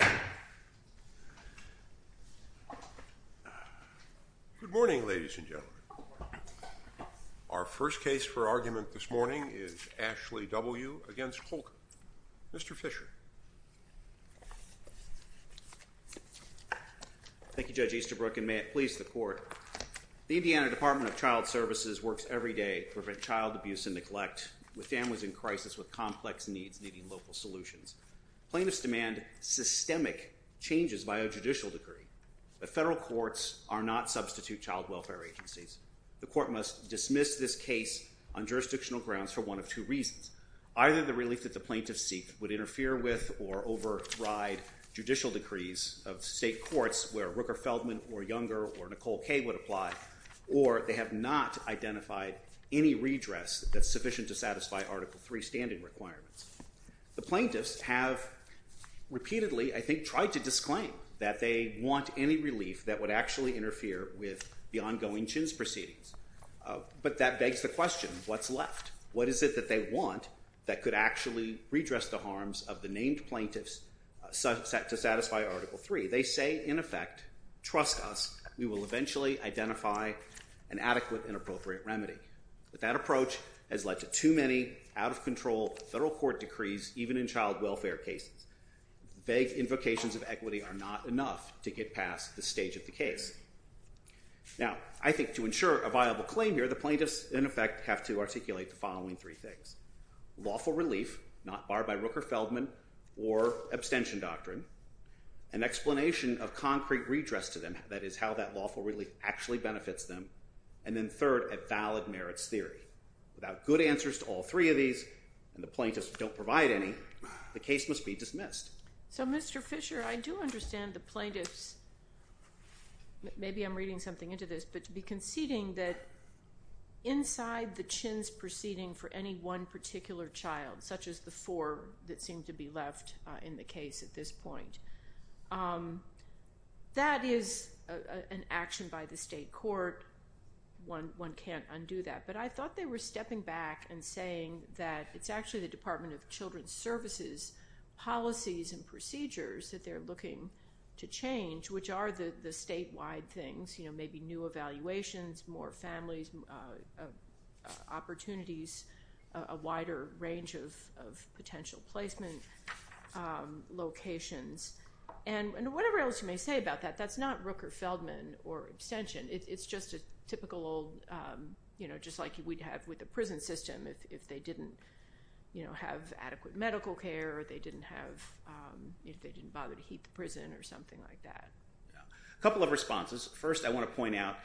Good morning, ladies and gentlemen. Our first case for argument this morning is Ashley W. v. Holcomb. Mr. Fisher. Thank you, Judge Easterbrook, and may it please the Court. The Indiana Department of Child Services works every day to prevent child abuse and neglect with families in crisis with complex needs needing local solutions. Plaintiffs demand systemic changes by a judicial decree, but federal courts are not substitute child welfare agencies. The Court must dismiss this case on jurisdictional grounds for one of two reasons. Either the relief that the plaintiffs seek would interfere with or override judicial decrees of state courts where Rooker-Feldman or Younger or Nicole K. would apply, or they have not identified any redress that's sufficient to satisfy Article III standing requirements. The plaintiffs have repeatedly, I think, tried to disclaim that they want any relief that would actually interfere with the ongoing Chins proceedings. But that begs the question, what's left? What is it that they want that could actually redress the harms of the named plaintiffs to satisfy Article III? They say, in effect, trust us, we will eventually identify an adequate and appropriate remedy. But that approach has led to too many out-of-control federal court decrees, even in child welfare cases. Vague invocations of equity are not enough to get past this stage of the case. Now, I think to ensure a viable claim here, the plaintiffs, in effect, have to articulate the following three things. Lawful relief, not barred by Rooker-Feldman or abstention doctrine. An explanation of concrete redress to them, that is, how that lawful relief actually benefits them. And then third, a valid merits theory. Without good answers to all three of these, and the plaintiffs don't provide any, the case must be dismissed. So Mr. Fisher, I do understand the plaintiffs, maybe I'm reading something into this, but such as the four that seem to be left in the case at this point. That is an action by the state court. One can't undo that. But I thought they were stepping back and saying that it's actually the Department of Children's Services policies and procedures that they're looking to change, which are the statewide things, maybe new evaluations, more families, opportunities, a wider range of potential placement locations. And whatever else you may say about that, that's not Rooker-Feldman or abstention. It's just a typical old, just like we'd have with the prison system, if they didn't have adequate medical care or they didn't have, if they didn't bother to heat the prison or A couple of responses. First, I want to point out,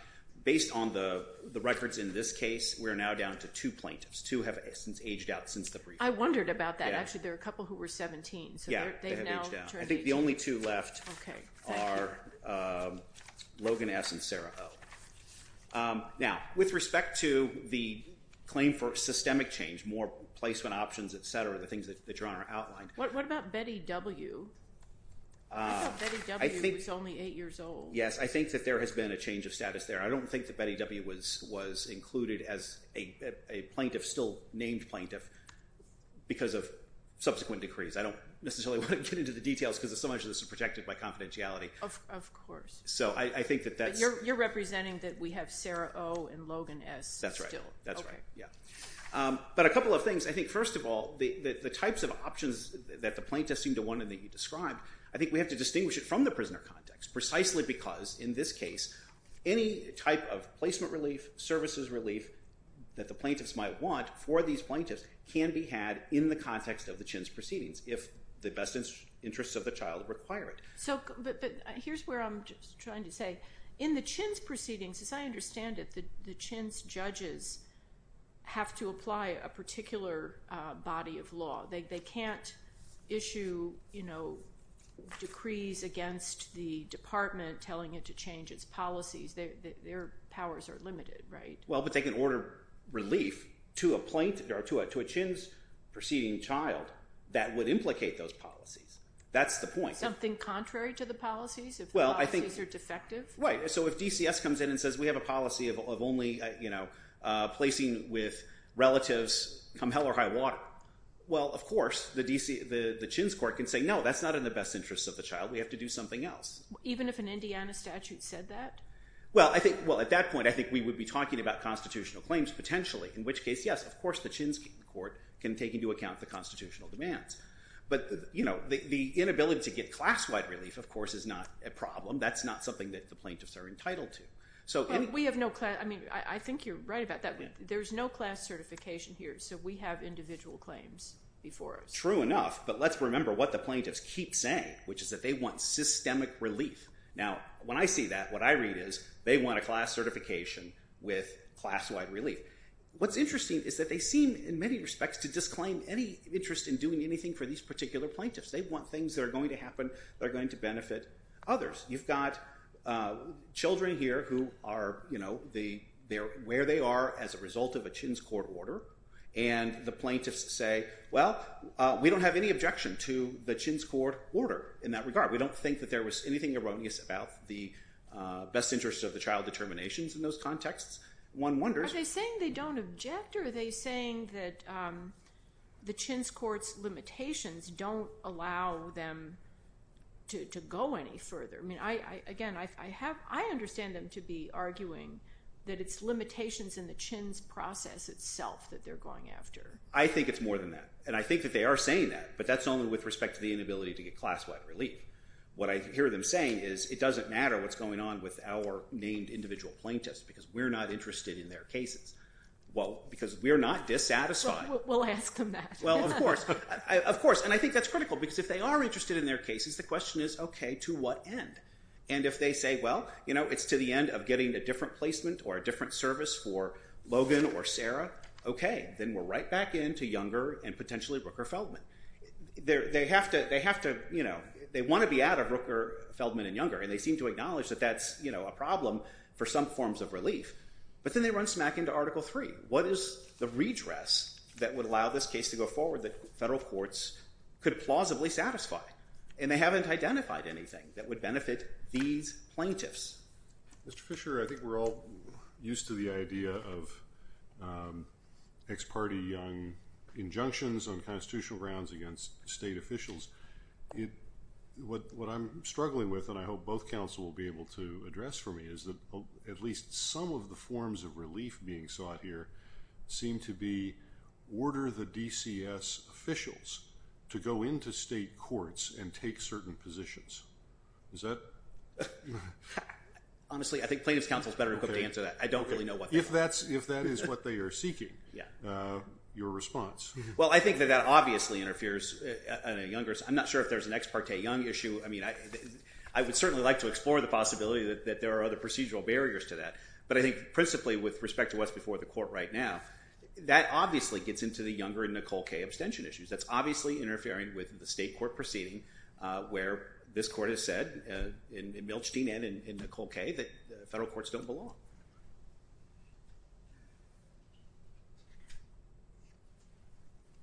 based on the records in this case, we're now down to two plaintiffs. Two have since aged out since the briefing. I wondered about that. Actually, there are a couple who were 17, so they've now turned 18. I think the only two left are Logan S. and Sarah O. Now with respect to the claim for systemic change, more placement options, et cetera, the things that you're on are outlined. What about Betty W.? I thought Betty W. was only eight years old. Yes, I think that there has been a change of status there. I don't think that Betty W. was included as a plaintiff, still named plaintiff, because of subsequent decrees. I don't necessarily want to get into the details because so much of this is protected by confidentiality. Of course. So I think that that's But you're representing that we have Sarah O. and Logan S. still. That's right. That's right. Yeah. But a couple of things. I think, first of all, the types of options that the plaintiffs seem to want and that you've described, I think we have to distinguish it from the prisoner context, precisely because in this case, any type of placement relief, services relief that the plaintiffs might want for these plaintiffs can be had in the context of the Chin's proceedings if the best interests of the child require it. But here's where I'm just trying to say, in the Chin's proceedings, as I understand it, the Chin's judges have to apply a particular body of law. They can't issue decrees against the department telling it to change its policies. Their powers are limited, right? Well, but they can order relief to a plaintiff or to a Chin's proceeding child that would implicate those policies. That's the point. Something contrary to the policies, if the policies are defective? Right. So if DCS comes in and says, we have a policy of only placing with relatives come hell or high water. Well, of course, the Chin's court can say, no, that's not in the best interests of the child. We have to do something else. Even if an Indiana statute said that? Well, I think, well, at that point, I think we would be talking about constitutional claims potentially, in which case, yes, of course, the Chin's court can take into account the constitutional demands. But the inability to get class-wide relief, of course, is not a problem. That's not something that the plaintiffs are entitled to. So we have no class. I mean, I think you're right about that. There's no class certification here. So we have individual claims before us. True enough. But let's remember what the plaintiffs keep saying, which is that they want systemic relief. Now, when I see that, what I read is, they want a class certification with class-wide relief. What's interesting is that they seem, in many respects, to disclaim any interest in doing anything for these particular plaintiffs. They want things that are going to happen that are going to benefit others. You've got children here who are where they are as a result of a Chin's court order. And the plaintiffs say, well, we don't have any objection to the Chin's court order in that regard. We don't think that there was anything erroneous about the best interests of the child determinations in those contexts. One wonders. Are they saying they don't object? I wonder, are they saying that the Chin's court's limitations don't allow them to go any further? I mean, again, I understand them to be arguing that it's limitations in the Chin's process itself that they're going after. I think it's more than that. And I think that they are saying that. But that's only with respect to the inability to get class-wide relief. What I hear them saying is, it doesn't matter what's going on with our named individual plaintiffs, because we're not interested in their cases. Well, because we're not dissatisfied. We'll ask them that. Well, of course. Of course. And I think that's critical. Because if they are interested in their cases, the question is, OK, to what end? And if they say, well, it's to the end of getting a different placement or a different service for Logan or Sarah, OK, then we're right back into Younger and potentially Rooker-Feldman. They want to be out of Rooker-Feldman and Younger. And they seem to acknowledge that that's a problem for some forms of relief. But then they run smack into Article III. What is the redress that would allow this case to go forward that federal courts could plausibly satisfy? And they haven't identified anything that would benefit these plaintiffs. Mr. Fisher, I think we're all used to the idea of ex parte Young injunctions on constitutional grounds against state officials. What I'm struggling with, and I hope both counsel will be able to address for me, is at least some of the forms of relief being sought here seem to be, order the DCS officials to go into state courts and take certain positions. Is that? Honestly, I think plaintiff's counsel is better equipped to answer that. I don't really know what they are. If that is what they are seeking, your response? Well, I think that that obviously interferes in a Younger's. I'm not sure if there's an ex parte Young issue. I mean, I would certainly like to explore the possibility that there are other procedural barriers to that. But I think principally with respect to what's before the court right now, that obviously gets into the Younger and Nicole Kaye abstention issues. That's obviously interfering with the state court proceeding where this court has said, in Milstein and in Nicole Kaye, that federal courts don't belong.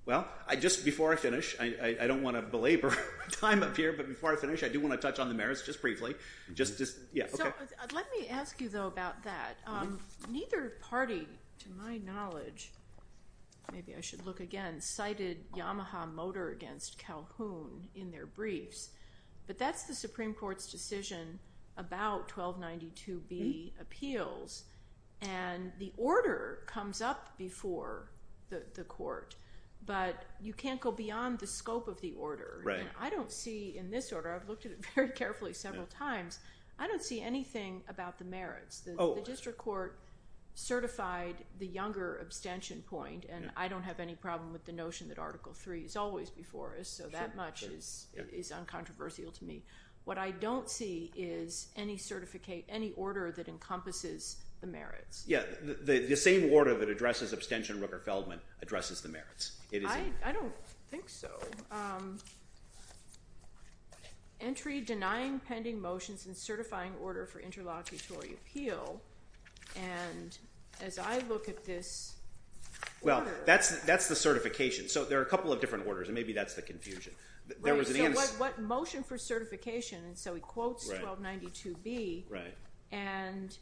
Well, just before I finish, I don't want to belabor time up here, but before I finish, I do want to touch on the merits just briefly. Let me ask you, though, about that. Neither party, to my knowledge, maybe I should look again, cited Yamaha Motor against Calhoun in their briefs. But that's the Supreme Court's decision about 1292B appeals. And the order comes up before the court, but you can't go beyond the scope of the order. I don't see in this order, I've looked at it very carefully several times, I don't see anything about the merits. The district court certified the Younger abstention point, and I don't have any problem with the What I don't see is any certificate, any order that encompasses the merits. Yeah, the same order that addresses abstention, Rooker-Feldman, addresses the merits. I don't think so. Entry denying pending motions and certifying order for interlocutory appeal, and as I look at this order. Well, that's the certification. So there are a couple of different orders, and maybe that's the confusion. Right, so what motion for certification, and so he quotes 1292B, and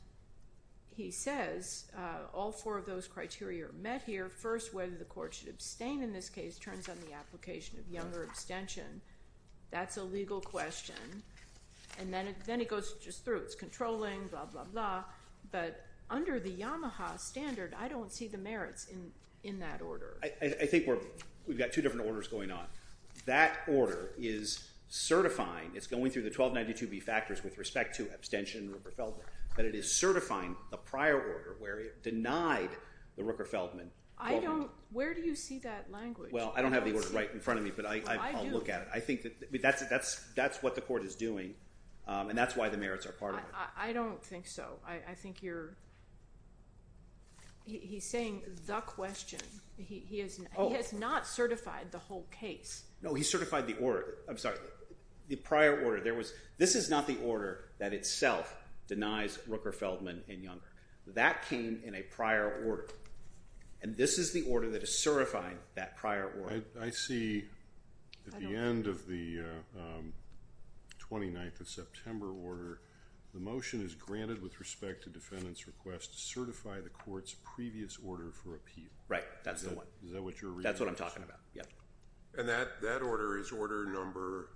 he says, all four of those criteria are met here, first whether the court should abstain in this case turns on the application of Younger abstention. That's a legal question, and then it goes just through, it's controlling, blah, blah, blah. But under the Yamaha standard, I don't see the merits in that order. I think we've got two different orders going on. That order is certifying, it's going through the 1292B factors with respect to abstention, Rooker-Feldman, but it is certifying the prior order where it denied the Rooker-Feldman. Where do you see that language? Well, I don't have the order right in front of me, but I'll look at it. I think that's what the court is doing, and that's why the merits are part of it. I don't think so. I think you're, he's saying the question. He has not certified the whole case. No, he certified the prior order. This is not the order that itself denies Rooker-Feldman and Younger. That came in a prior order, and this is the order that is certifying that prior order. I see at the end of the 29th of September order, the motion is granted with respect to defendant's request to certify the court's previous order for appeal. Right, that's the one. Is that what you're reading? That's what I'm talking about, yeah. And that order is order number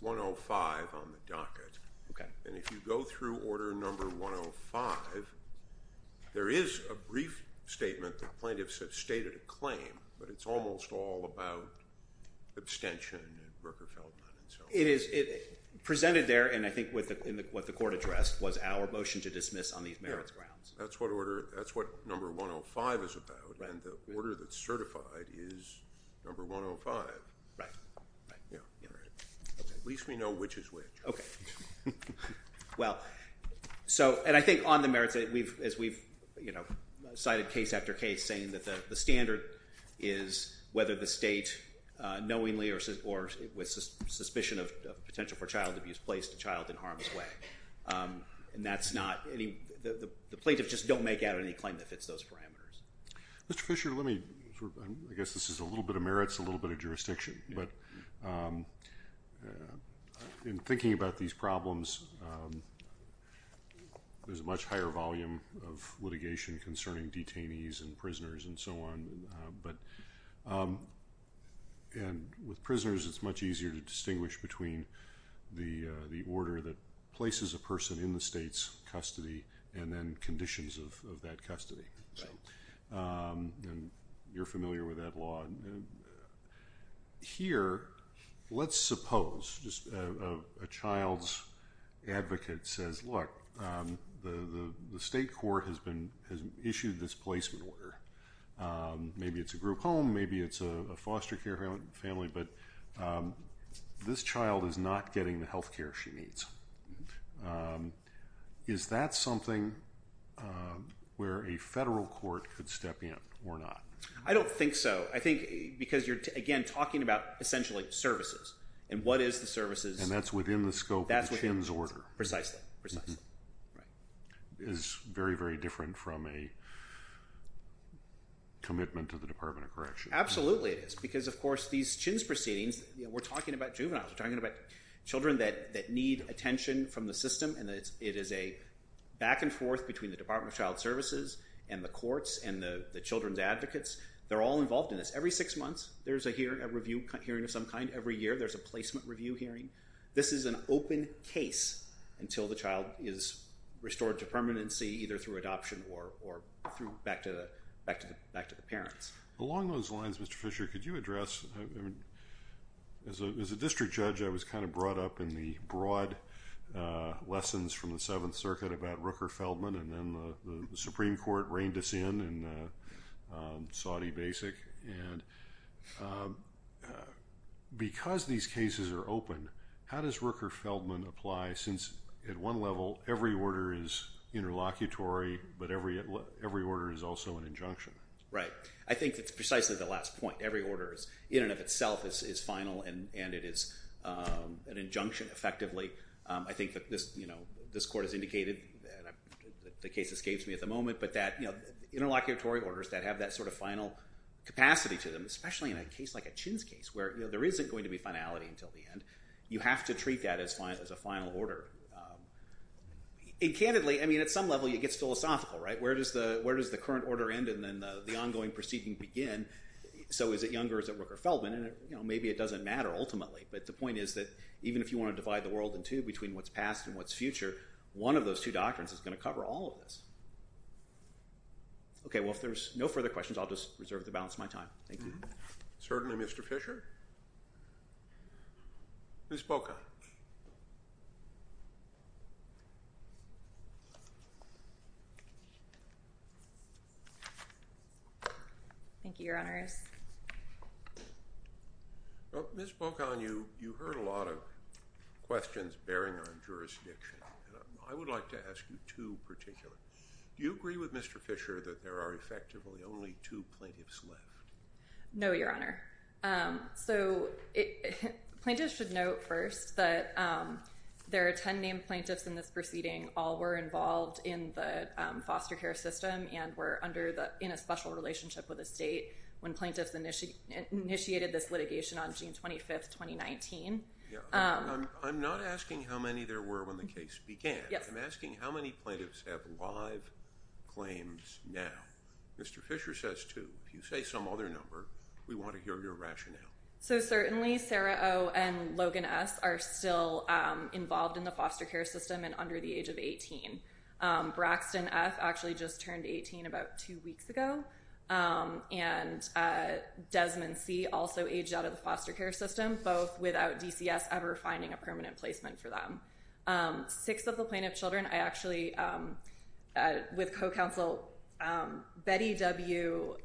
105 on the docket. Okay. And if you go through order number 105, there is a brief statement that plaintiffs have about abstention and Rooker-Feldman and so forth. It is presented there, and I think what the court addressed was our motion to dismiss on these merits grounds. Yeah, that's what order, that's what number 105 is about, and the order that's certified is number 105. Right, right. Yeah. At least we know which is which. Okay. Well, so, and I think on the merits, as we've cited case after case, saying that the standard is whether the state knowingly or with suspicion of potential for child abuse placed a child in harm's way, and that's not any, the plaintiffs just don't make out any claim that fits those parameters. Mr. Fisher, let me, I guess this is a little bit of merits, a little bit of jurisdiction, but in thinking about these problems, there's a much higher volume of litigation concerning detainees and prisoners and so on, but, and with prisoners, it's much easier to distinguish between the order that places a person in the state's custody and then conditions of that custody. Right. So, and you're familiar with that law, and here, let's suppose just a child's advocate says, look, the state court has been, has issued this placement order. Maybe it's a group home, maybe it's a foster care family, but this child is not getting the health care she needs. Is that something where a federal court could step in or not? I don't think so. I think because you're, again, talking about essentially services, and what is the services? And that's within the scope of the CHIMS order. Precisely. Precisely. Right. It's very, very different from a commitment to the Department of Correction. Absolutely it is, because, of course, these CHIMS proceedings, we're talking about juveniles, we're talking about children that need attention from the system, and it is a back and forth between the Department of Child Services and the courts and the children's advocates. They're all involved in this. Every six months, there's a hearing, a review hearing of some kind. Every year, there's a placement review hearing. This is an open case until the child is restored to permanency, either through adoption or through back to the parents. Along those lines, Mr. Fisher, could you address, as a district judge, I was kind of brought up in the broad lessons from the Seventh Circuit about Rooker-Feldman, and then the Supreme Because these cases are open, how does Rooker-Feldman apply, since at one level, every order is interlocutory, but every order is also an injunction? Right. I think that's precisely the last point. Every order is, in and of itself, is final, and it is an injunction, effectively. I think that this court has indicated, and the case escapes me at the moment, but that interlocutory orders that have that sort of final capacity to them, especially in a case where there isn't going to be finality until the end, you have to treat that as a final order. And candidly, I mean, at some level, it gets philosophical, right? Where does the current order end, and then the ongoing proceeding begin? So is it Younger? Is it Rooker-Feldman? And maybe it doesn't matter, ultimately, but the point is that even if you want to divide the world in two, between what's past and what's future, one of those two doctrines is going to cover all of this. Okay. Thank you. Certainly, Mr. Fischer. Ms. Bocan. Thank you, Your Honors. Ms. Bocan, you heard a lot of questions bearing on jurisdiction, and I would like to ask you two particular. Do you agree with Mr. Fischer that there are effectively only two plaintiffs left? No, Your Honor. So, plaintiffs should note first that there are 10 named plaintiffs in this proceeding. All were involved in the foster care system and were in a special relationship with the state when plaintiffs initiated this litigation on June 25, 2019. I'm not asking how many there were when the case began. I'm asking how many plaintiffs have live claims now. Mr. Fischer says two. If you say some other number, we want to hear your rationale. So certainly, Sarah O. and Logan S. are still involved in the foster care system and under the age of 18. Braxton F. actually just turned 18 about two weeks ago, and Desmond C. also aged out of the foster care system, both without DCS ever finding a permanent placement for them. Six of the plaintiff children, I actually, with co-counsel Betty W.,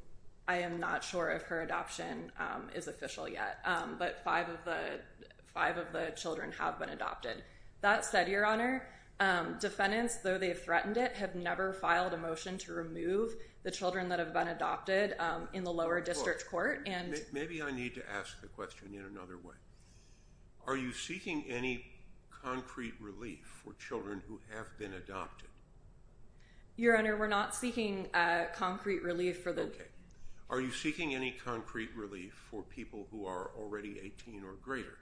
I am not sure if her adoption is official yet, but five of the children have been adopted. That said, Your Honor, defendants, though they have threatened it, have never filed a motion to remove the children that have been adopted in the lower district court. Maybe I need to ask the question in another way. Are you seeking any concrete relief for children who have been adopted? Your Honor, we're not seeking concrete relief for the... Okay. Are you seeking any concrete relief for people who are already 18 or greater?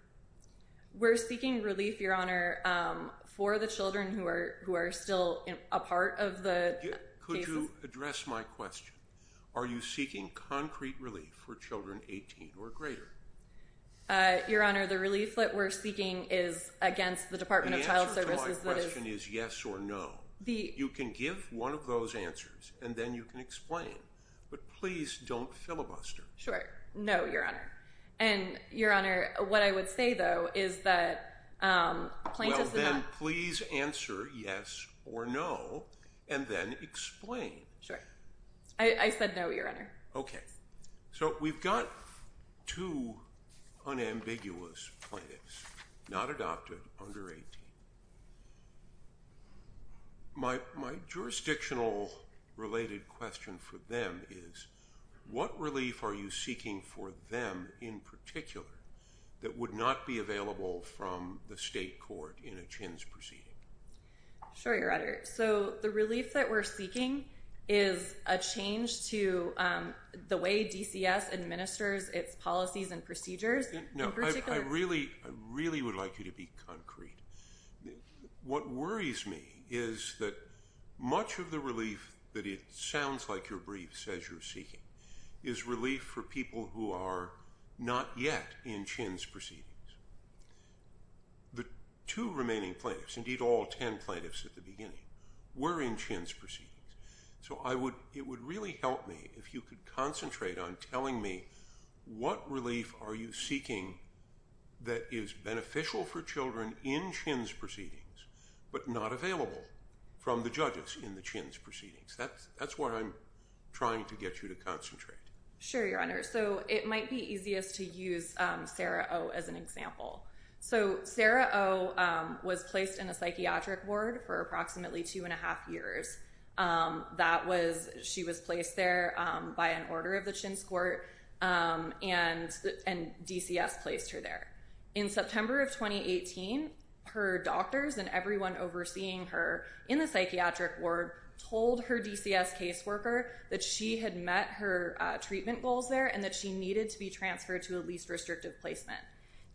We're seeking relief, Your Honor, for the children who are still a part of the cases. Could you address my question? Are you seeking concrete relief for children 18 or greater? Your Honor, the relief that we're seeking is against the Department of Child Services. The answer to my question is yes or no. You can give one of those answers, and then you can explain. But please don't filibuster. Sure. No, Your Honor. And, Your Honor, what I would say, though, is that plaintiffs... Well, then please answer yes or no, and then explain. Sure. I said no, Your Honor. Okay. So we've got two unambiguous plaintiffs, not adopted, under 18. My jurisdictional-related question for them is what relief are you seeking for them in particular that would not be available from the state court in a CHINS proceeding? Sure, Your Honor. So the relief that we're seeking is a change to the way DCS administers its policies and procedures in particular. No, I really would like you to be concrete. What worries me is that much of the relief that it sounds like you're briefed, says you're seeking, is relief for people who are not yet in CHINS proceedings. The two remaining plaintiffs, indeed all ten plaintiffs at the beginning, were in CHINS proceedings. So it would really help me if you could concentrate on telling me what relief are you seeking that is beneficial for children in CHINS proceedings but not available from the judges in the CHINS proceedings. That's what I'm trying to get you to concentrate. Sure, Your Honor. So it might be easiest to use Sarah O. as an example. So Sarah O. was placed in a psychiatric ward for approximately two and a half years. She was placed there by an order of the CHINS court, and DCS placed her there. In September of 2018, her doctors and everyone overseeing her in the psychiatric ward told her DCS caseworker that she had met her treatment goals there and that she needed to be transferred to a least restrictive placement.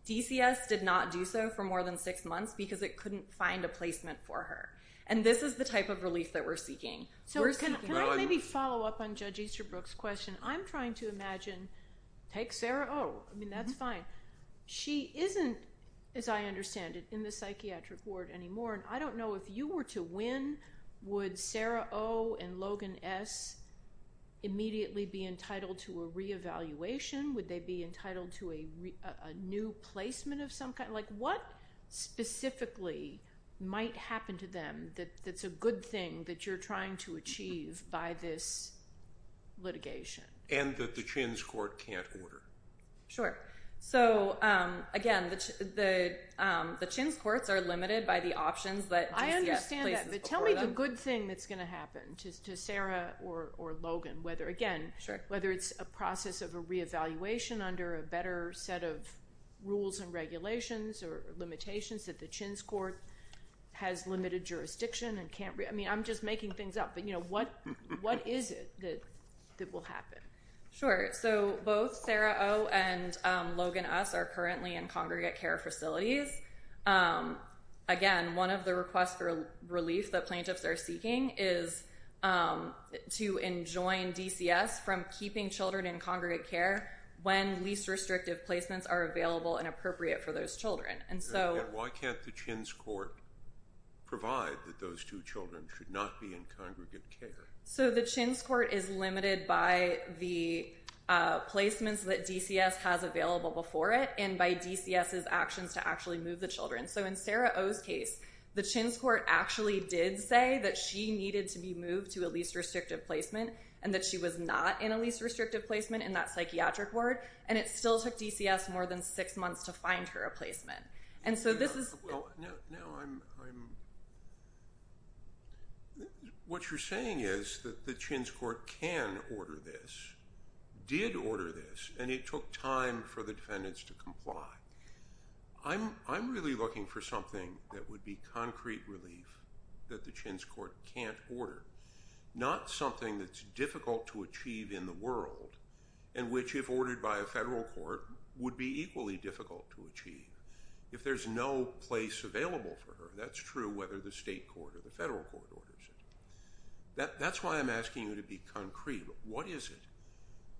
DCS did not do so for more than six months because it couldn't find a placement for her. And this is the type of relief that we're seeking. So can I maybe follow up on Judge Easterbrook's question? I'm trying to imagine, take Sarah O. I mean, that's fine. She isn't, as I understand it, in the psychiatric ward anymore, and I don't know if you were to win, would Sarah O. and Logan S. immediately be entitled to a reevaluation? Would they be entitled to a new placement of some kind? Like what specifically might happen to them that's a good thing that you're trying to achieve by this litigation? And that the CHINS court can't order. Sure. So, again, the CHINS courts are limited by the options that DCS places before them. I understand that, but tell me the good thing that's going to happen to Sarah or Logan, whether, again, whether it's a process of a reevaluation under a better set of rules and regulations or limitations that the CHINS court has limited jurisdiction and can't – I mean, I'm just making things up. But, you know, what is it that will happen? Sure. So both Sarah O. and Logan S. are currently in congregate care facilities. Again, one of the requests for relief that plaintiffs are seeking is to enjoin DCS from keeping children in congregate care when least restrictive placements are available and appropriate for those children. And why can't the CHINS court provide that those two children should not be in congregate care? So the CHINS court is limited by the placements that DCS has available before it and by DCS's actions to actually move the children. So in Sarah O.'s case, the CHINS court actually did say that she needed to be moved to a least restrictive placement and that she was not in a least restrictive placement in that psychiatric ward, and it still took DCS more than six months to find her a placement. What you're saying is that the CHINS court can order this, did order this, and it took time for the defendants to comply. I'm really looking for something that would be concrete relief that the CHINS court can't order, not something that's difficult to achieve in the world and which, if ordered by a federal court, would be equally difficult to achieve. If there's no place available for her, that's true whether the state court or the federal court orders it. That's why I'm asking you to be concrete. What is it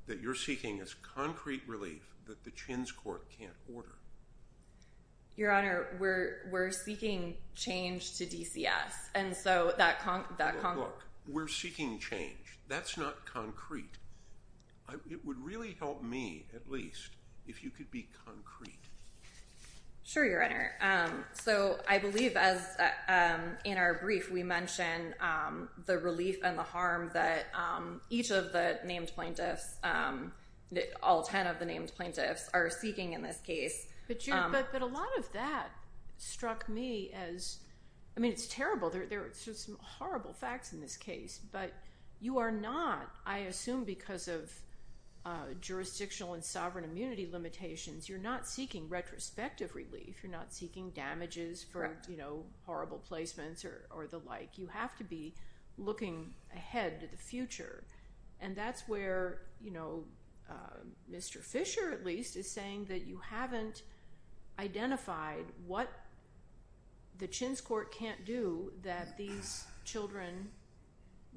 that you're seeking as concrete relief that the CHINS court can't order? Your Honor, we're seeking change to DCS. Look, we're seeking change. That's not concrete. It would really help me, at least, if you could be concrete. Sure, Your Honor. I believe, in our brief, we mentioned the relief and the harm that each of the named plaintiffs, all ten of the named plaintiffs, are seeking in this case. But a lot of that struck me as—I mean, it's terrible. There are some horrible facts in this case, but you are not, I assume because of jurisdictional and sovereign immunity limitations, you're not seeking retrospective relief. You're not seeking damages for horrible placements or the like. You have to be looking ahead to the future. And that's where Mr. Fisher, at least, is saying that you haven't identified what the CHINS court can't do that these children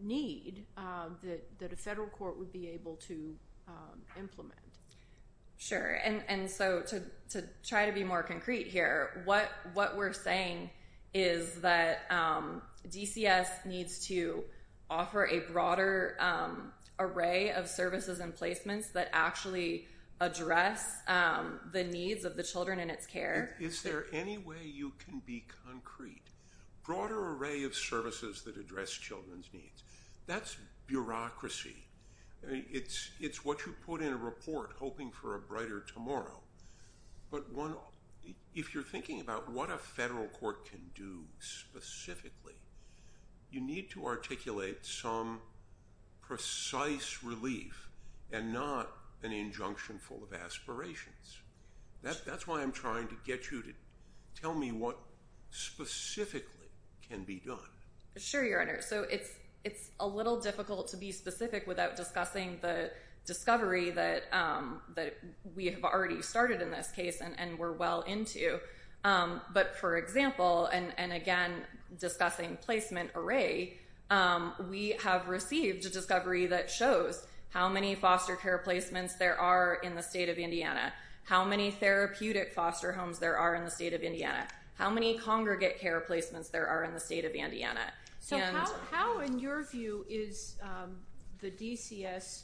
need, Sure, and so to try to be more concrete here, what we're saying is that DCS needs to offer a broader array of services and placements that actually address the needs of the children in its care. Is there any way you can be concrete? Broader array of services that address children's needs. That's bureaucracy. It's what you put in a report hoping for a brighter tomorrow. But if you're thinking about what a federal court can do specifically, you need to articulate some precise relief and not an injunction full of aspirations. That's why I'm trying to get you to tell me what specifically can be done. Sure, Your Honor. So it's a little difficult to be specific without discussing the discovery that we have already started in this case and we're well into. But for example, and again discussing placement array, we have received a discovery that shows how many foster care placements there are in the state of Indiana. How many therapeutic foster homes there are in the state of Indiana. How many congregate care placements there are in the state of Indiana. So how, in your view, is the DCS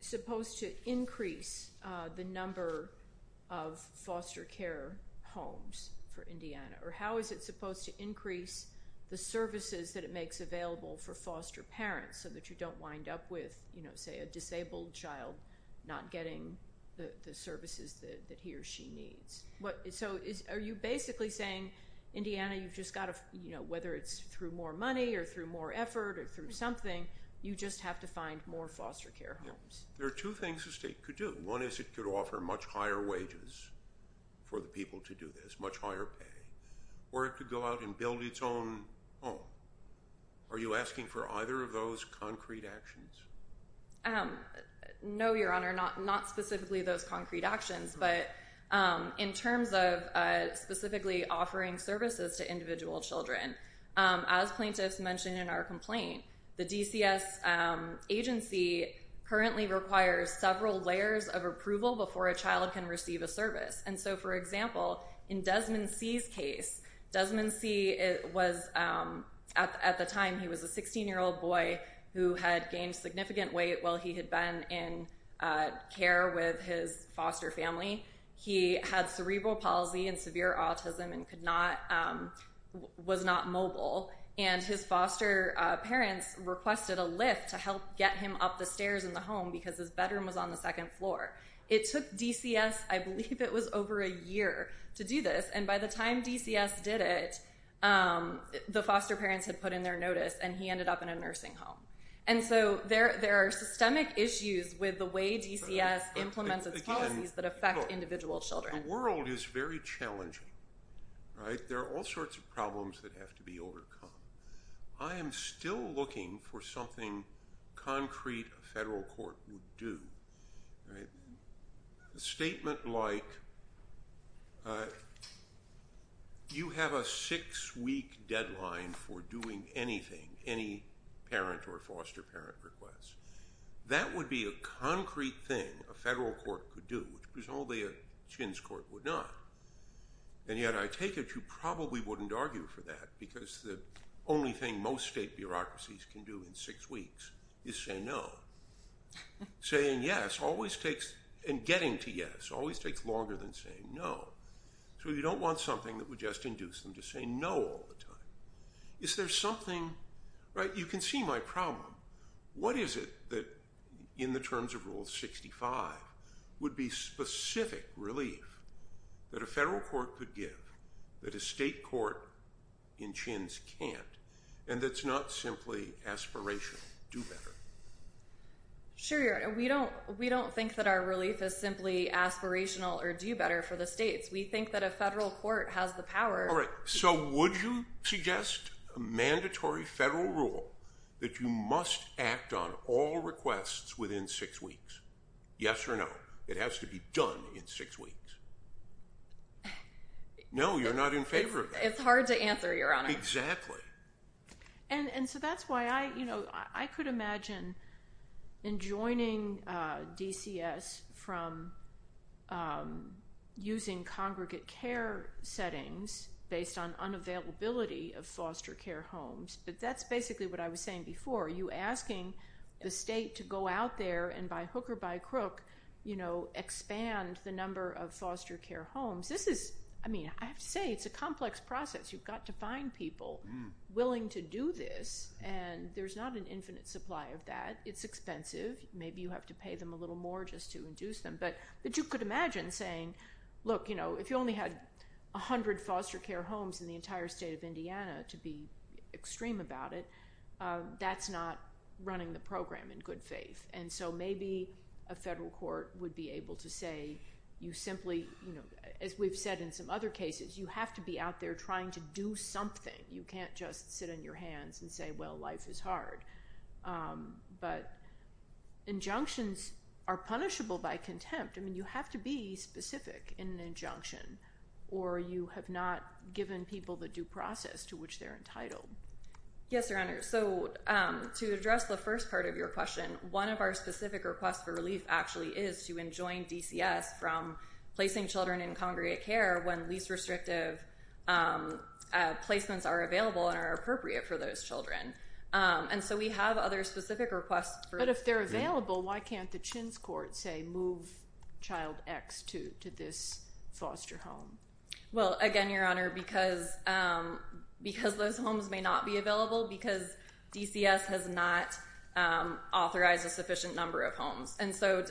supposed to increase the number of foster care homes for Indiana? Or how is it supposed to increase the services that it makes available for foster parents so that you don't wind up with, say, a disabled child not getting the services that he or she needs? So are you basically saying, Indiana, whether it's through more money or through more effort or through something, you just have to find more foster care homes? There are two things the state could do. One is it could offer much higher wages for the people to do this, much higher pay. Or it could go out and build its own home. Are you asking for either of those concrete actions? No, Your Honor, not specifically those concrete actions. But in terms of specifically offering services to individual children, as plaintiffs mentioned in our complaint, the DCS agency currently requires several layers of approval before a child can receive a service. And so, for example, in Desmond C.'s case, Desmond C., at the time, he was a 16-year-old boy who had gained significant weight while he had been in care with his foster family. He had cerebral palsy and severe autism and was not mobile. And his foster parents requested a lift to help get him up the stairs in the home because his bedroom was on the second floor. It took DCS, I believe it was over a year, to do this. And by the time DCS did it, the foster parents had put in their notice and he ended up in a nursing home. And so there are systemic issues with the way DCS implements its policies that affect individual children. The world is very challenging. There are all sorts of problems that have to be overcome. I am still looking for something concrete a federal court would do. A statement like, you have a six-week deadline for doing anything, any parent or foster parent request. That would be a concrete thing a federal court could do, which presumably a children's court would not. And yet I take it you probably wouldn't argue for that because the only thing most state bureaucracies can do in six weeks is say no. Saying yes always takes, and getting to yes, always takes longer than saying no. So you don't want something that would just induce them to say no all the time. Is there something, right, you can see my problem. What is it that in the terms of Rule 65 would be specific relief that a federal court could give, that a state court in chins can't, and that's not simply aspirational, do better? Sure, Your Honor. We don't think that our relief is simply aspirational or do better for the states. We think that a federal court has the power. So would you suggest a mandatory federal rule that you must act on all requests within six weeks? Yes or no? It has to be done in six weeks. No, you're not in favor of that. It's hard to answer, Your Honor. Exactly. And so that's why I could imagine enjoining DCS from using congregate care settings based on unavailability of foster care homes, but that's basically what I was saying before. You asking the state to go out there and by hook or by crook, you know, expand the number of foster care homes, this is, I mean, I have to say it's a complex process. You've got to find people willing to do this, and there's not an infinite supply of that. It's expensive. Maybe you have to pay them a little more just to induce them, but you could imagine saying, look, you know, if you only had 100 foster care homes in the entire state of Indiana, to be extreme about it, that's not running the program in good faith. And so maybe a federal court would be able to say you simply, you know, as we've said in some other cases, you have to be out there trying to do something. You can't just sit on your hands and say, well, life is hard. But injunctions are punishable by contempt. I mean, you have to be specific in an injunction, or you have not given people the due process to which they're entitled. Yes, Your Honor, so to address the first part of your question, one of our specific requests for relief actually is to enjoin DCS from placing children in congregate care when least restrictive placements are available and are appropriate for those children. And so we have other specific requests. But if they're available, why can't the Chins Court say move child X to this foster home? Well, again, Your Honor, because those homes may not be available, because DCS has not authorized a sufficient number of homes. And so,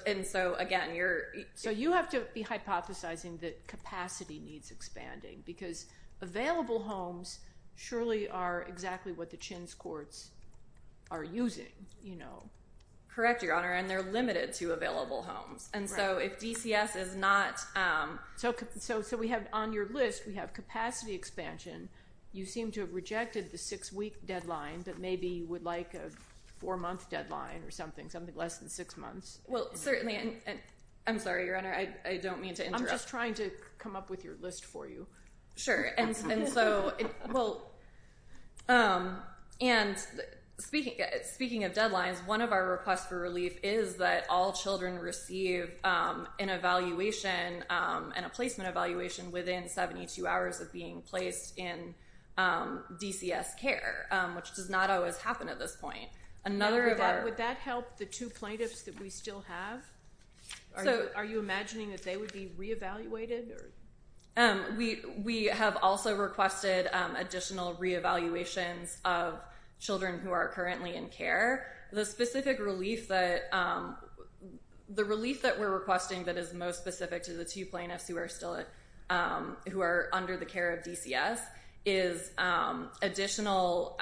again, you're- So you have to be hypothesizing that capacity needs expanding, because available homes surely are exactly what the Chins Courts are using. Correct, Your Honor, and they're limited to available homes. And so if DCS is not- So we have on your list, we have capacity expansion. You seem to have rejected the six-week deadline, but maybe you would like a four-month deadline or something, something less than six months. Well, certainly. I'm sorry, Your Honor, I don't mean to interrupt. I'm just trying to come up with your list for you. Sure, and so, well, and speaking of deadlines, one of our requests for relief is that all children receive an evaluation and a placement evaluation within 72 hours of being placed in DCS care, which does not always happen at this point. Would that help the two plaintiffs that we still have? Are you imagining that they would be re-evaluated? We have also requested additional re-evaluations of children who are currently in care. The specific relief that- the relief that we're requesting that is most specific to the two plaintiffs who are still- who are under the care of DCS is additional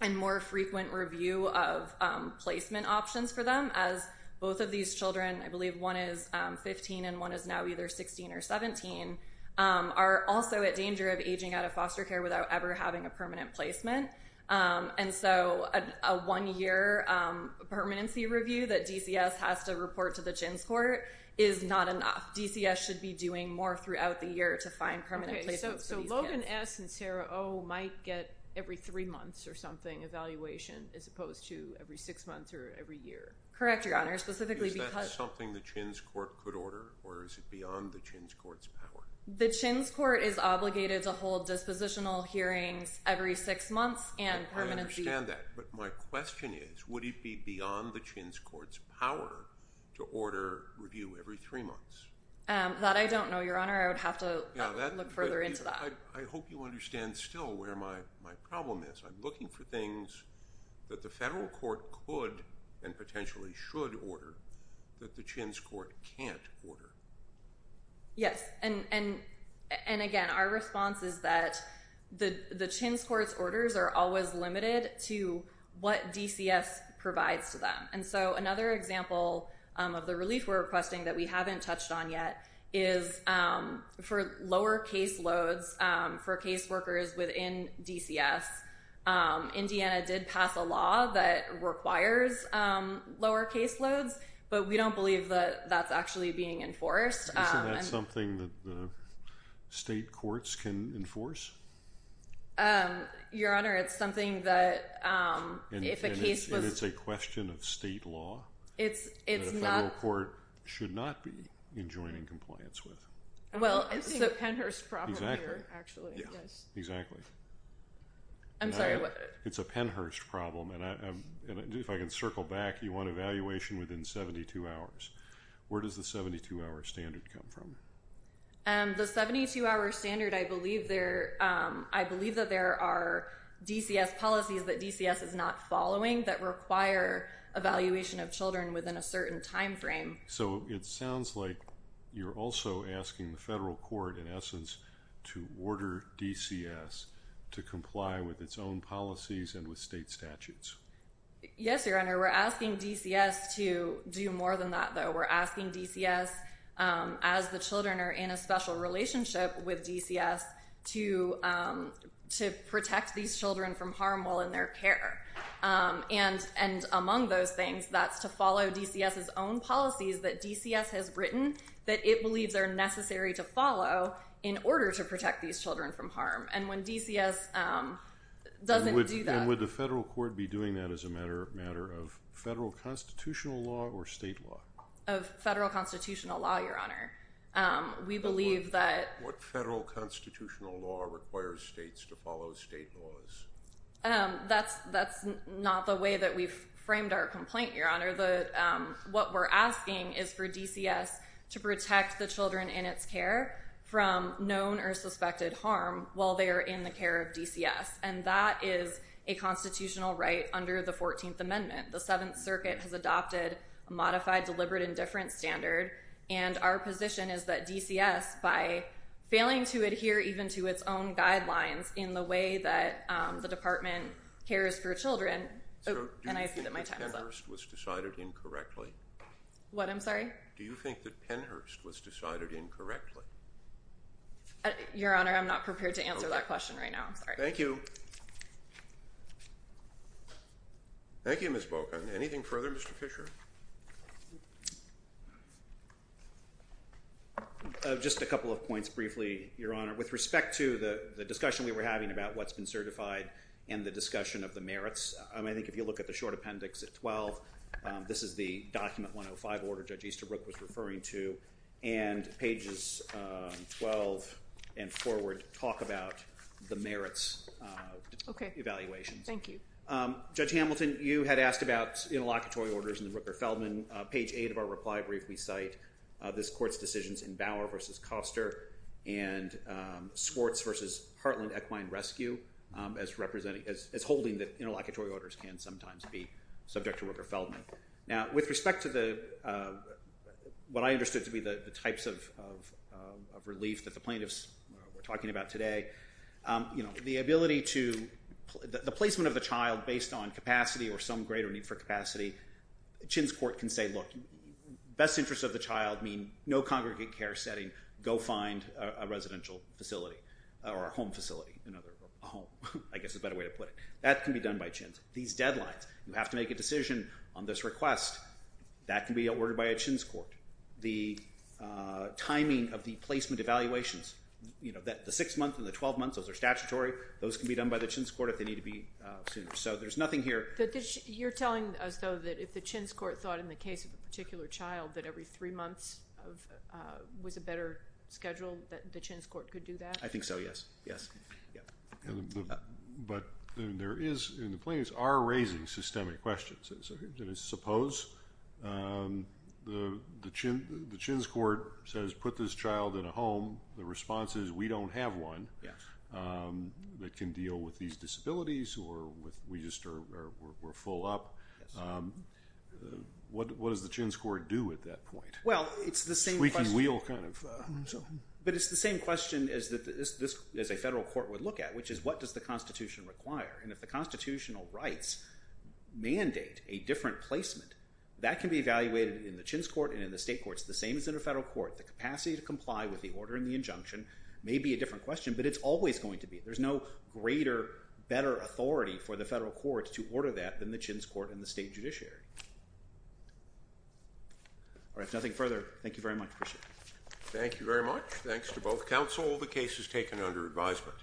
and more frequent review of placement options for them, as both of these children, I believe one is 15 and one is now either 16 or 17, are also at danger of aging out of foster care without ever having a permanent placement. And so a one-year permanency review that DCS has to report to the JINS court is not enough. DCS should be doing more throughout the year to find permanent placements for these kids. Logan S. and Sarah O. might get every three months or something evaluation as opposed to every six months or every year. Correct, Your Honor, specifically because- Is that something the JINS court could order or is it beyond the JINS court's power? The JINS court is obligated to hold dispositional hearings every six months and permanency- I understand that, but my question is, would it be beyond the JINS court's power to order review every three months? That I don't know, Your Honor. I would have to look further into that. I hope you understand still where my problem is. I'm looking for things that the federal court could and potentially should order that the JINS court can't order. Yes, and again, our response is that the JINS court's orders are always limited to what DCS provides to them. And so another example of the relief we're requesting that we haven't touched on yet is for lower caseloads for caseworkers within DCS. Indiana did pass a law that requires lower caseloads, but we don't believe that that's actually being enforced. Isn't that something that the state courts can enforce? Your Honor, it's something that if a case was- And it's a question of state law? It's not- That a federal court should not be enjoining compliance with. Well, it's a Pennhurst problem here, actually. Exactly. I'm sorry. It's a Pennhurst problem, and if I can circle back, you want evaluation within 72 hours. Where does the 72-hour standard come from? The 72-hour standard, I believe that there are DCS policies that DCS is not following that require evaluation of children within a certain time frame. So it sounds like you're also asking the federal court, in essence, to order DCS to comply with its own policies and with state statutes. Yes, Your Honor. We're asking DCS to do more than that, though. We're asking DCS, as the children are in a special relationship with DCS, to protect these children from harm while in their care. And among those things, that's to follow DCS's own policies that DCS has written that it believes are necessary to follow in order to protect these children from harm. And when DCS doesn't do that- And would the federal court be doing that as a matter of federal constitutional law or state law? Of federal constitutional law, Your Honor. What federal constitutional law requires states to follow state laws? That's not the way that we've framed our complaint, Your Honor. What we're asking is for DCS to protect the children in its care from known or suspected harm while they are in the care of DCS. And that is a constitutional right under the 14th Amendment. The Seventh Circuit has adopted a modified deliberate indifference standard, and our position is that DCS, by failing to adhere even to its own guidelines in the way that the Department cares for children- Do you think that Pennhurst was decided incorrectly? What? I'm sorry? Do you think that Pennhurst was decided incorrectly? Your Honor, I'm not prepared to answer that question right now. I'm sorry. Thank you. Thank you, Ms. Bogan. Anything further, Mr. Fisher? Just a couple of points briefly, Your Honor. With respect to the discussion we were having about what's been certified and the discussion of the merits, I think if you look at the short appendix at 12, this is the document 105 Order Judge Easterbrook was referring to, and pages 12 and forward talk about the merits evaluations. Okay. Thank you. Judge Hamilton, you had asked about interlocutory orders in the Rooker-Feldman. Page 8 of our reply brief we cite this Court's decisions in Bauer v. Koster and Swartz v. Heartland Equine Rescue as holding that interlocutory orders can sometimes be subject to Rooker-Feldman. Now, with respect to what I understood to be the types of relief that the plaintiffs were talking about today, the placement of the child based on capacity or some greater need for capacity, Chin's Court can say, look, best interests of the child mean no congregate care setting, go find a residential facility or a home facility. A home, I guess is a better way to put it. That can be done by Chin's. These deadlines. You have to make a decision on this request. That can be ordered by a Chin's court. The timing of the placement evaluations, you know, the six months and the 12 months, those are statutory, those can be done by the Chin's court if they need to be soon. So there's nothing here. You're telling us, though, that if the Chin's court thought in the case of a particular child that every three months was a better schedule that the Chin's court could do that? I think so, yes. But there is, and the plaintiffs are raising systemic questions. Suppose the Chin's court says put this child in a home. The response is we don't have one that can deal with these disabilities or we're full up. What does the Chin's court do at that point? Squeaky wheel kind of. Which is what does the Constitution require? And if the constitutional rights mandate a different placement, that can be evaluated in the Chin's court and in the state courts, the same as in a federal court. The capacity to comply with the order in the injunction may be a different question, but it's always going to be. There's no greater, better authority for the federal courts to order that than the Chin's court and the state judiciary. All right. Nothing further. Thank you very much. Appreciate it. Thank you very much. Thanks to both counsel. The case is taken under advisement.